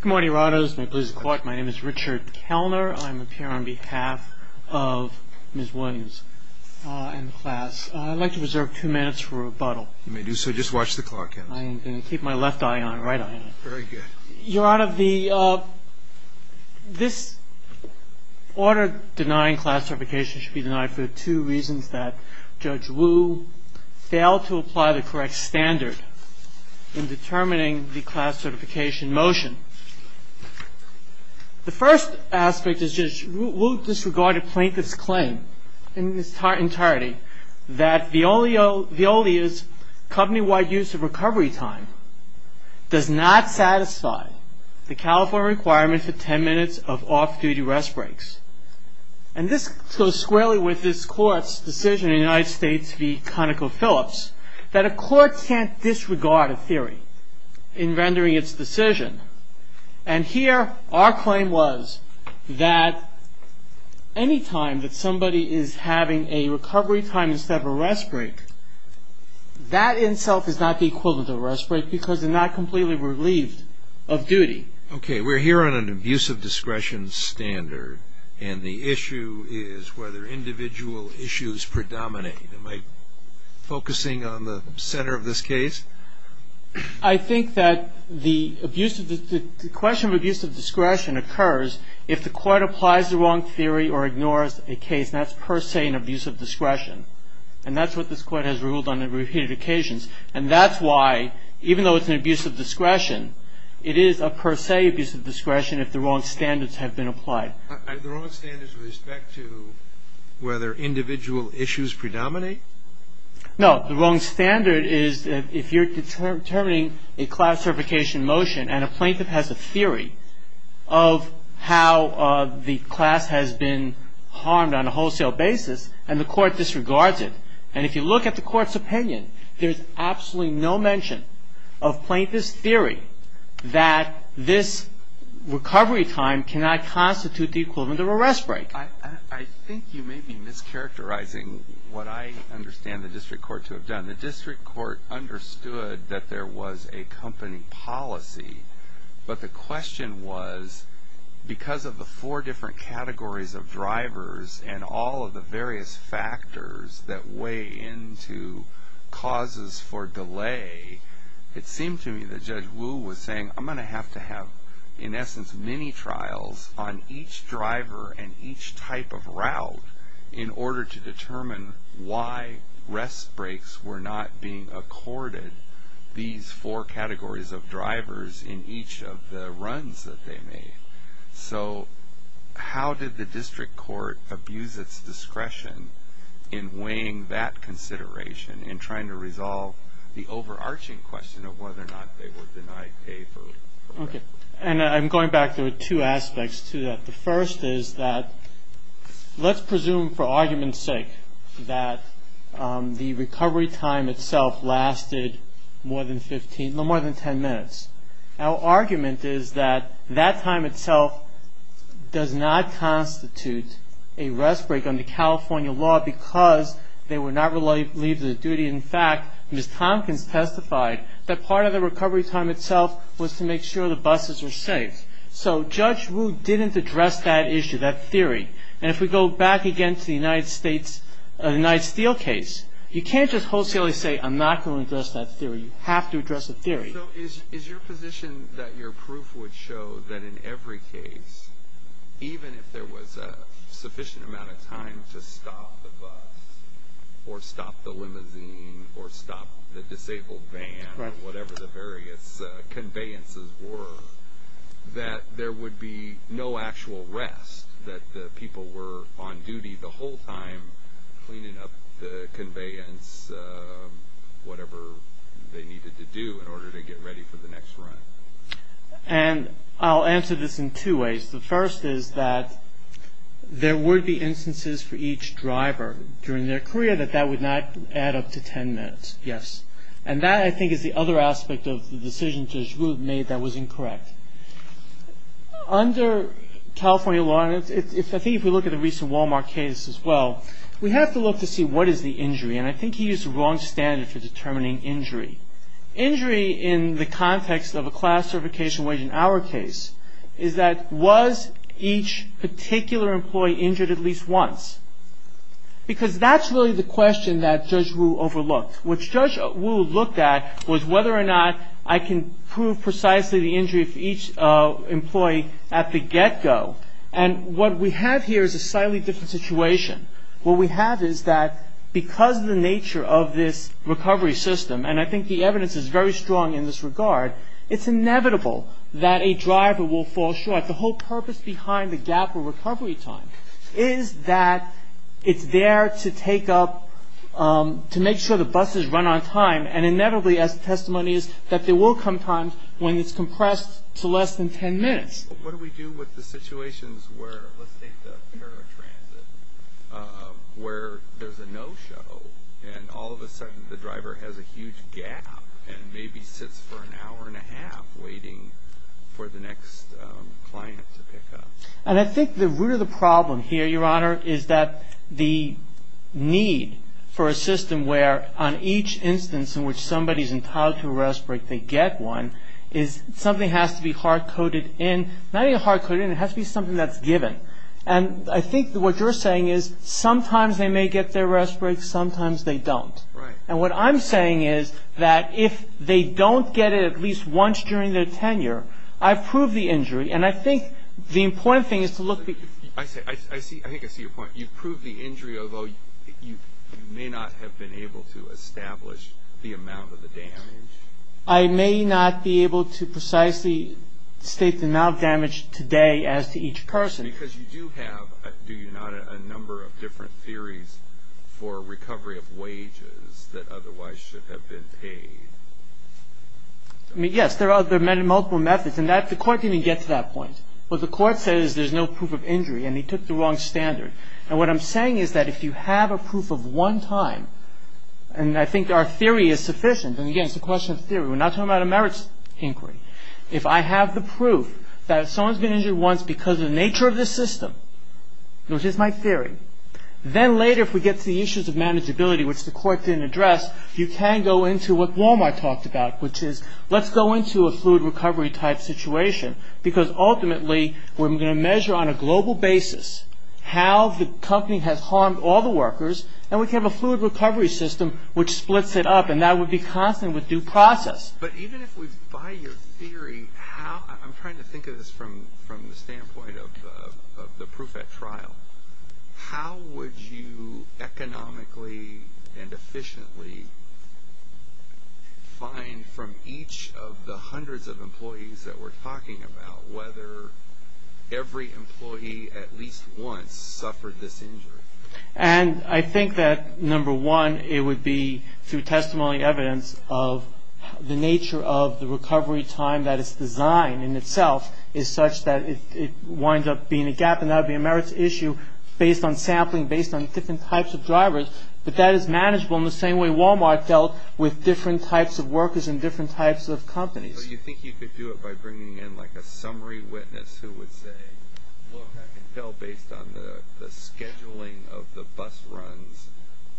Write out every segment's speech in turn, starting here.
Good morning, your honors. My name is Richard Kellner. I'm here on behalf of Ms. Williams and the class. I'd like to reserve two minutes for rebuttal. You may do so. Just watch the clock. I'm going to keep my left eye on it, right eye on it. Very good. Your honor, this order denying class certification should be denied for the two reasons that Judge Wu failed to apply the correct standard in determining the class certification motion. The first aspect is Judge Wu disregarded plaintiff's claim in its entirety that Veolia's company-wide use of recovery time does not satisfy the California requirement for 10 minutes of off-duty rest breaks. And this goes squarely with this court's decision in the United States v. ConocoPhillips that a court can't disregard a theory in rendering its decision. And here our claim was that any time that somebody is having a recovery time instead of a rest break, that in itself is not the equivalent of a rest break because they're not completely relieved of duty. Okay, we're here on an abuse of discretion standard, and the issue is whether individual issues predominate. Am I focusing on the center of this case? I think that the question of abuse of discretion occurs if the court applies the wrong theory or ignores a case, and that's per se an abuse of discretion. And that's what this court has ruled on repeated occasions. And that's why, even though it's an abuse of discretion, it is a per se abuse of discretion if the wrong standards have been applied. Are the wrong standards with respect to whether individual issues predominate? No. The wrong standard is if you're determining a class certification motion and a plaintiff has a theory of how the class has been harmed on a wholesale basis, and the court disregards it. And if you look at the court's opinion, there's absolutely no mention of plaintiff's theory that this recovery time cannot constitute the equivalent of a rest break. I think you may be mischaracterizing what I understand the district court to have done. The district court understood that there was a company policy, but the question was because of the four different categories of drivers and all of the various factors that weigh into causes for delay, it seemed to me that Judge Wu was saying, I'm going to have to have, in essence, many trials on each driver and each type of route in order to determine why rest breaks were not being accorded these four categories of drivers in each of the runs that they made. So how did the district court abuse its discretion in weighing that consideration in trying to resolve the overarching question of whether or not they were denied pay for rest? Okay. And I'm going back to two aspects to that. The first is that let's presume for argument's sake that the recovery time itself lasted no more than 10 minutes. Our argument is that that time itself does not constitute a rest break under California law because they were not relieved of their duty. In fact, Ms. Tompkins testified that part of the recovery time itself was to make sure the buses were safe. So Judge Wu didn't address that issue, that theory. And if we go back again to the United States, the Knight-Steele case, you can't just wholesalely say, I'm not going to address that theory. You have to address the theory. So is your position that your proof would show that in every case, even if there was a sufficient amount of time to stop the bus or stop the limousine or stop the disabled van or whatever the various conveyances were, that there would be no actual rest, that the people were on duty the whole time cleaning up the conveyance, whatever they needed to do in order to get ready for the next run? And I'll answer this in two ways. The first is that there would be instances for each driver during their career that that would not add up to 10 minutes. Yes. And that, I think, is the other aspect of the decision Judge Wu made that was incorrect. Under California law, and I think if we look at the recent Walmart case as well, we have to look to see what is the injury. And I think he used the wrong standard for determining injury. Injury in the context of a class certification wage in our case is that was each particular employee injured at least once? Because that's really the question that Judge Wu overlooked. What Judge Wu looked at was whether or not I can prove precisely the injury of each employee at the get-go. And what we have here is a slightly different situation. What we have is that because of the nature of this recovery system, and I think the evidence is very strong in this regard, it's inevitable that a driver will fall short. The whole purpose behind the gap of recovery time is that it's there to take up, to make sure the buses run on time, and inevitably, as the testimony is, that there will come times when it's compressed to less than 10 minutes. What do we do with the situations where, let's take the paratransit, where there's a no-show and all of a sudden the driver has a huge gap and maybe sits for an hour and a half waiting for the next client to pick up? And I think the root of the problem here, Your Honor, is that the need for a system where on each instance in which somebody is entitled to a rest break, if they get one, is something has to be hard-coded in. Not even hard-coded in, it has to be something that's given. And I think what you're saying is sometimes they may get their rest break, sometimes they don't. And what I'm saying is that if they don't get it at least once during their tenure, I've proved the injury and I think the important thing is to look... I think I see your point. You've proved the injury, although you may not have been able to establish the amount of the damage. I may not be able to precisely state the amount of damage today as to each person. Because you do have, do you not, a number of different theories for recovery of wages that otherwise should have been paid. Yes, there are multiple methods and the court didn't get to that point. What the court said is there's no proof of injury and he took the wrong standard. And what I'm saying is that if you have a proof of one time, and I think our theory is sufficient, and again it's a question of theory, we're not talking about a merits inquiry. If I have the proof that someone's been injured once because of the nature of the system, which is my theory, then later if we get to the issues of manageability, which the court didn't address, you can go into what Walmart talked about, which is let's go into a fluid recovery type situation. Because ultimately we're going to measure on a global basis how the company has harmed all the workers and we can have a fluid recovery system which splits it up and that would be constant with due process. But even if we buy your theory, I'm trying to think of this from the standpoint of the proof at trial. How would you economically and efficiently find from each of the hundreds of employees that we're talking about whether every employee at least once suffered this injury? And I think that number one, it would be through testimony and evidence of the nature of the recovery time that its design in itself is such that it winds up being a gap and that would be a merits issue based on sampling, based on different types of drivers. But that is manageable in the same way Walmart dealt with different types of workers and different types of companies. So you think you could do it by bringing in like a summary witness who would say, look I can tell based on the scheduling of the bus runs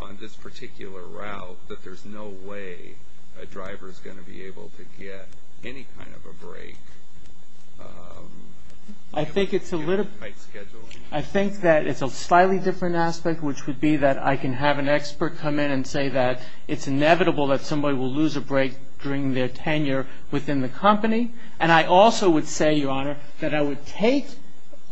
on this particular route that there's no way a driver is going to be able to get any kind of a break? I think that it's a slightly different aspect which would be that I can have an expert come in and say that it's inevitable that somebody will lose a break during their tenure within the company. And I also would say, Your Honor, that I would take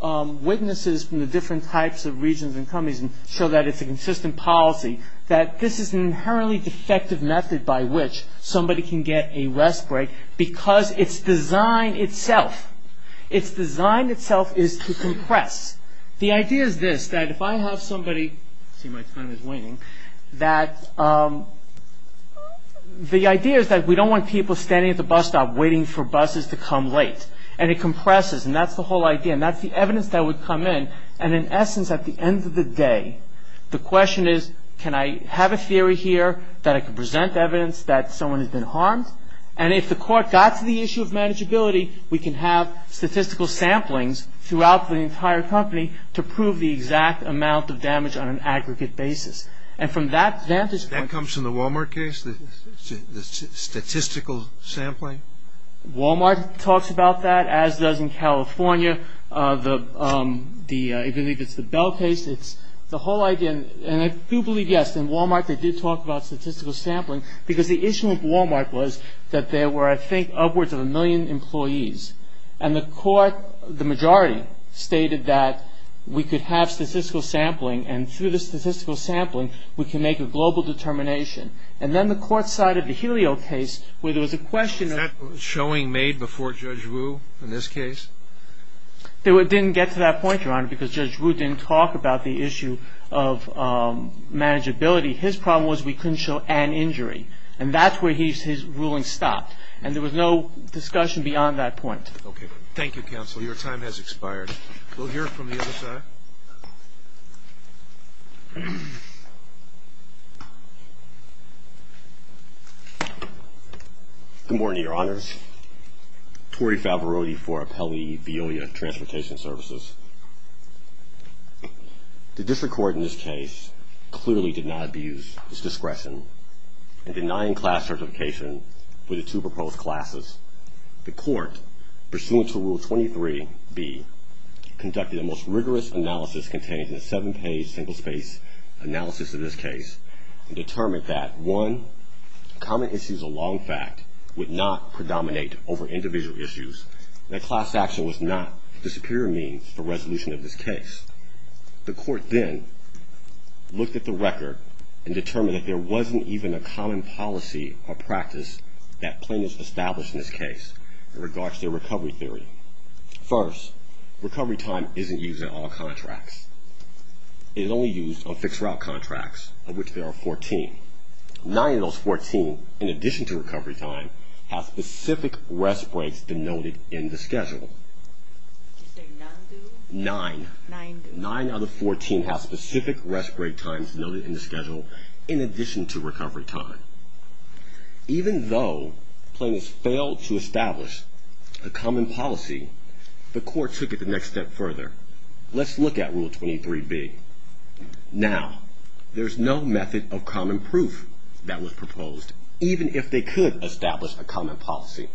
witnesses from the different types of regions and companies and show that it's a consistent policy that this is an inherently defective method by which somebody can get a rest break because its design itself, its design itself is to compress. The idea is this, that if I have somebody, see my time is waning, that the idea is that we don't want people standing at the bus stop waiting for buses to come late. And it compresses and that's the whole idea and that's the evidence that would come in and in essence at the end of the day, the question is can I have a theory here that I can present evidence that someone has been harmed? And if the court got to the issue of manageability, we can have statistical samplings throughout the entire company to prove the exact amount of damage on an aggregate basis. And from that vantage point... That comes from the Walmart case, the statistical sampling? Walmart talks about that as does in California. I believe it's the Bell case. It's the whole idea and I do believe, yes, in Walmart they did talk about statistical sampling because the issue with Walmart was that there were, I think, upwards of a million employees. And the court, the majority, stated that we could have statistical sampling and through the statistical sampling we can make a global determination. And then the court sided the Helio case where there was a question of... Is that showing made before Judge Wu in this case? It didn't get to that point, Your Honor, because Judge Wu didn't talk about the issue of manageability. His problem was we couldn't show an injury and that's where his ruling stopped and there was no discussion beyond that point. Okay. Thank you, counsel. Your time has expired. We'll hear from the other side. Good morning, Your Honors. Torrey Favarotti for Appellee Veolia Transportation Services. The district court in this case clearly did not abuse its discretion in denying class certification for the two proposed classes. The court, pursuant to Rule 23b, conducted a most rigorous analysis contained in a seven-page single-space analysis of this case and determined that, one, common issues of long fact would not predominate over individual issues and that class action was not the superior means for resolution of this case. The court then looked at the record and determined that there wasn't even a common policy or practice that plaintiffs established in this case in regards to their recovery theory. First, recovery time isn't used in all contracts. It is only used on fixed-route contracts, of which there are 14. Nine of those 14, in addition to recovery time, have specific rest breaks denoted in the schedule. Did you say nine, too? Nine. Nine, too. Nine out of 14 have specific rest break times noted in the schedule in addition to recovery time. Even though plaintiffs failed to establish a common policy, the court took it the next step further. Let's look at Rule 23b. Now, there's no method of common proof that was proposed, even if they could establish a common policy.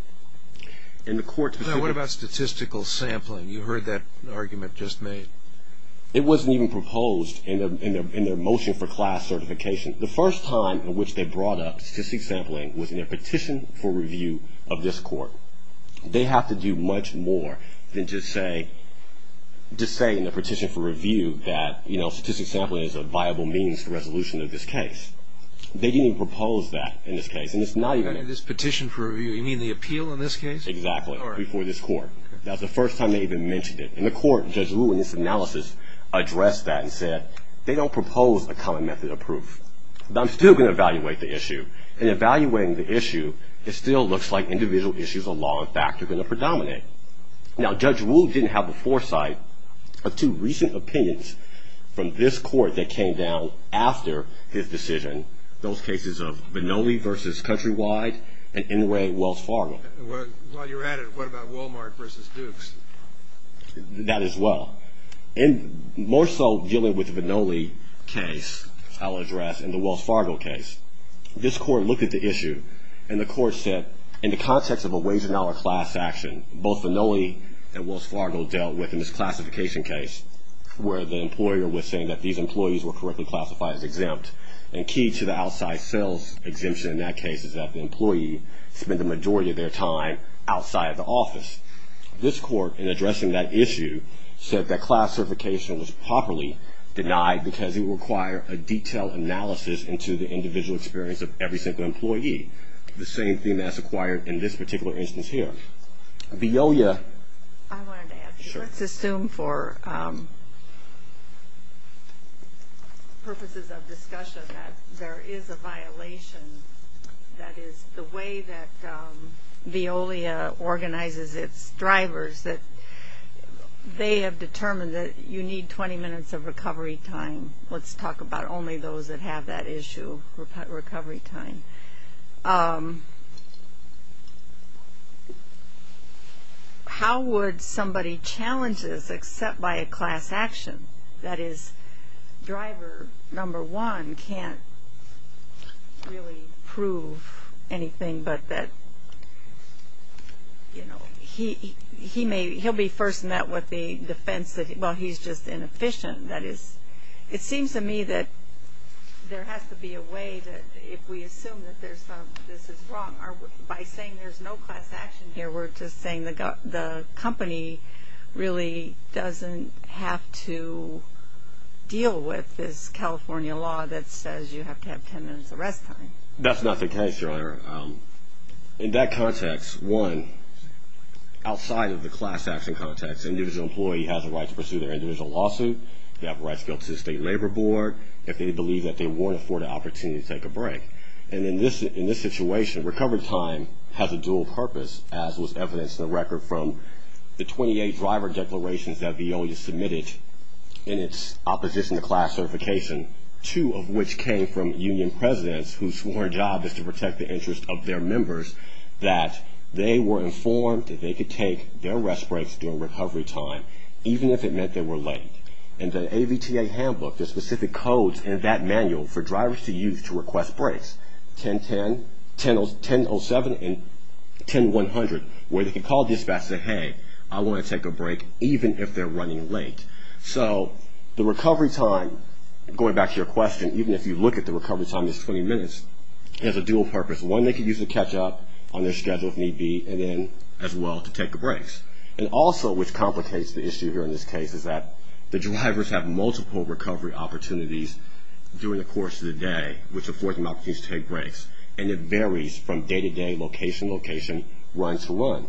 Now, what about statistical sampling? You heard that argument just made. It wasn't even proposed in their motion for class certification. The first time in which they brought up statistic sampling was in their petition for review of this court. They have to do much more than just say in the petition for review that, you know, statistic sampling is a viable means to resolution of this case. They didn't even propose that in this case, and it's not even there. This petition for review, you mean the appeal in this case? Exactly, before this court. That was the first time they even mentioned it. And the court, Judge Rue in this analysis, addressed that and said, they don't propose a common method of proof. I'm still going to evaluate the issue. In evaluating the issue, it still looks like individual issues of law and fact are going to predominate. Now, Judge Rue didn't have a foresight of two recent opinions from this court that came down after his decision, those cases of Vinole v. Countrywide and Inouye, Wells Fargo. While you're at it, what about Walmart v. Dukes? That as well. And more so dealing with the Vinole case, I'll address, and the Wells Fargo case. This court looked at the issue, and the court said, in the context of a wage and dollar class action, both Vinole and Wells Fargo dealt with in this classification case, where the employer was saying that these employees were correctly classified as exempt. And key to the outside sales exemption in that case is that the employee spent the majority of their time outside of the office. This court, in addressing that issue, said that classification was properly denied because it would require a detailed analysis into the individual experience of every single employee, the same theme as acquired in this particular instance here. Veolia. I wanted to add to that. Sure. Let's assume for purposes of discussion that there is a violation, that is, the way that Veolia organizes its drivers, that they have determined that you need 20 minutes of recovery time. Let's talk about only those that have that issue, recovery time. How would somebody challenge this except by a class action? That is, driver number one can't really prove anything but that, you know, he'll be first met with the defense that, well, he's just inefficient. That is, it seems to me that there has to be a way that if we assume that this is wrong, by saying there's no class action here, we're just saying the company really doesn't have to deal with this California law that says you have to have 10 minutes of rest time. That's not the case, Your Honor. In that context, one, outside of the class action context, an individual employee has the right to pursue their individual lawsuit. They have the right to appeal to the State Labor Board if they believe that they weren't afforded the opportunity to take a break. And in this situation, recovery time has a dual purpose, as was evidenced in the record from the 28 driver declarations that Veolia submitted in its opposition to class certification, two of which came from union presidents whose sworn job is to protect the interest of their members, that they were informed that they could take their rest breaks during recovery time, even if it meant they were late. In the AVTA handbook, there's specific codes in that manual for drivers to use to request breaks, 10-10, 10-07, and 10-100, where they can call dispatch and say, hey, I want to take a break, even if they're running late. So the recovery time, going back to your question, even if you look at the recovery time as 20 minutes, has a dual purpose. One, they can use to catch up on their schedule if need be, and then as well to take a break. And also, which complicates the issue here in this case, is that the drivers have multiple recovery opportunities during the course of the day, which affords them opportunities to take breaks, and it varies from day-to-day location, location, run-to-run.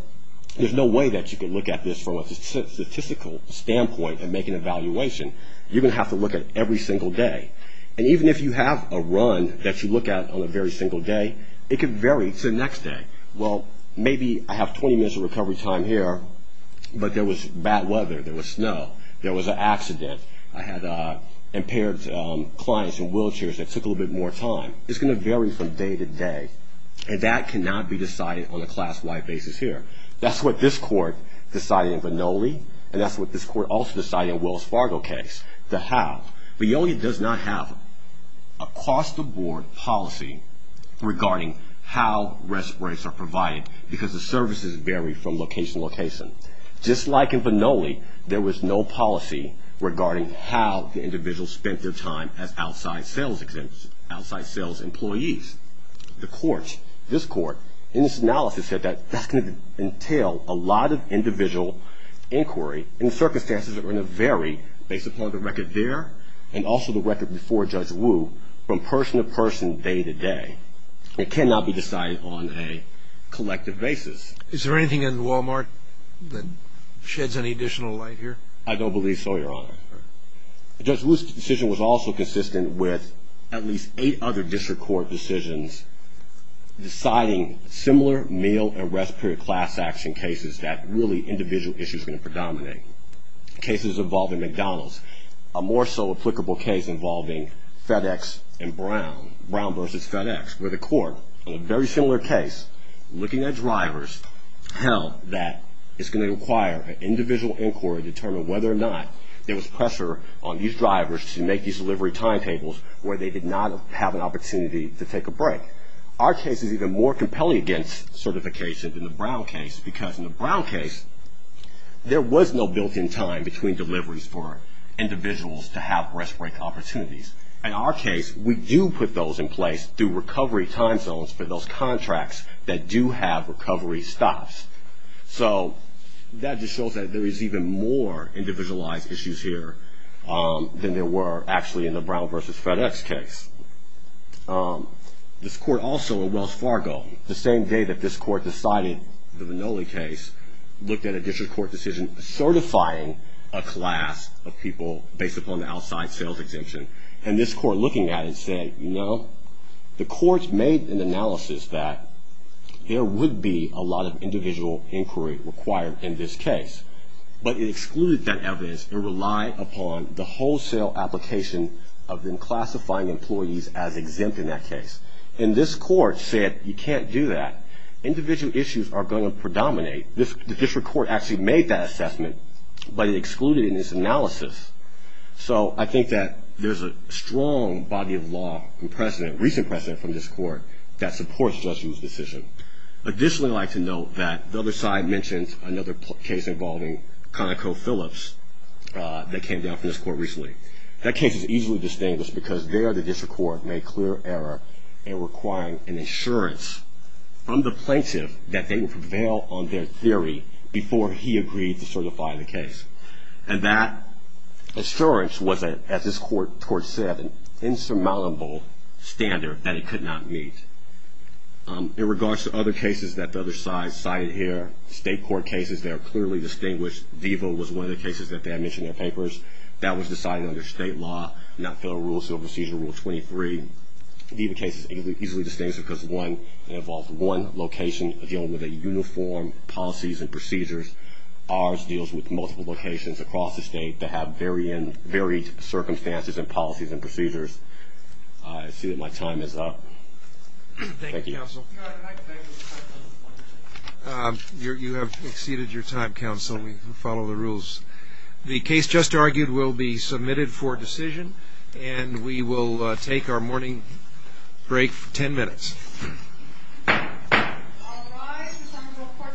There's no way that you could look at this from a statistical standpoint and make an evaluation. You're going to have to look at every single day. And even if you have a run that you look at on a very single day, it could vary to the next day. Well, maybe I have 20 minutes of recovery time here, but there was bad weather. There was snow. There was an accident. I had impaired clients in wheelchairs that took a little bit more time. It's going to vary from day-to-day, and that cannot be decided on a class-wide basis here. That's what this court decided in Vannoli, and that's what this court also decided in Wells Fargo case, the how. Vannoli does not have across-the-board policy regarding how rest breaks are provided because the services vary from location to location. Just like in Vannoli, there was no policy regarding how the individual spent their time as outside sales employees. The court, this court, in its analysis said that that's going to entail a lot of individual inquiry and the circumstances that are going to vary based upon the record there and also the record before Judge Wu from person-to-person, day-to-day. It cannot be decided on a collective basis. Is there anything in Walmart that sheds any additional light here? I don't believe so, Your Honor. Judge Wu's decision was also consistent with at least eight other district court decisions deciding similar meal and rest period class action cases that really individual issues are going to predominate. Cases involving McDonald's, a more so applicable case involving FedEx and Brown, Brown versus FedEx, where the court in a very similar case, looking at drivers, held that it's going to require an individual inquiry to determine whether or not there was pressure on these drivers to make these delivery timetables where they did not have an opportunity to take a break. Our case is even more compelling against certification than the Brown case because in the Brown case, there was no built-in time between deliveries for individuals to have rest break opportunities. In our case, we do put those in place through recovery time zones for those contracts that do have recovery stops. So that just shows that there is even more individualized issues here than there were actually in the Brown versus FedEx case. This court also in Wells Fargo, the same day that this court decided the Manoli case, looked at a district court decision certifying a class of people based upon the outside sales exemption. And this court, looking at it, said, you know, the court made an analysis that there would be a lot of individual inquiry required in this case. But it excluded that evidence. It relied upon the wholesale application of then classifying employees as exempt in that case. And this court said, you can't do that. Individual issues are going to predominate. The district court actually made that assessment, but it excluded it in its analysis. So I think that there's a strong body of law and precedent, recent precedent from this court that supports the judge's decision. Additionally, I'd like to note that the other side mentioned another case involving ConocoPhillips that came down from this court recently. That case is easily distinguished because there the district court made clear error in requiring an insurance from the plaintiff that they would prevail on their theory before he agreed to certify the case. And that insurance was, as this court said, an insurmountable standard that it could not meet. In regards to other cases that the other side cited here, state court cases that are clearly distinguished, VIVA was one of the cases that they had mentioned in their papers. That was decided under state law, not federal rule, civil procedure rule 23. VIVA case is easily distinguished because it involves one location dealing with a uniform policies and procedures. Ours deals with multiple locations across the state that have varied circumstances and policies and procedures. I see that my time is up. Thank you, counsel. You have exceeded your time, counsel. We follow the rules. The case just argued will be submitted for decision, and we will take our morning break for 10 minutes. All rise. The summons of the court starts at 10 minutes.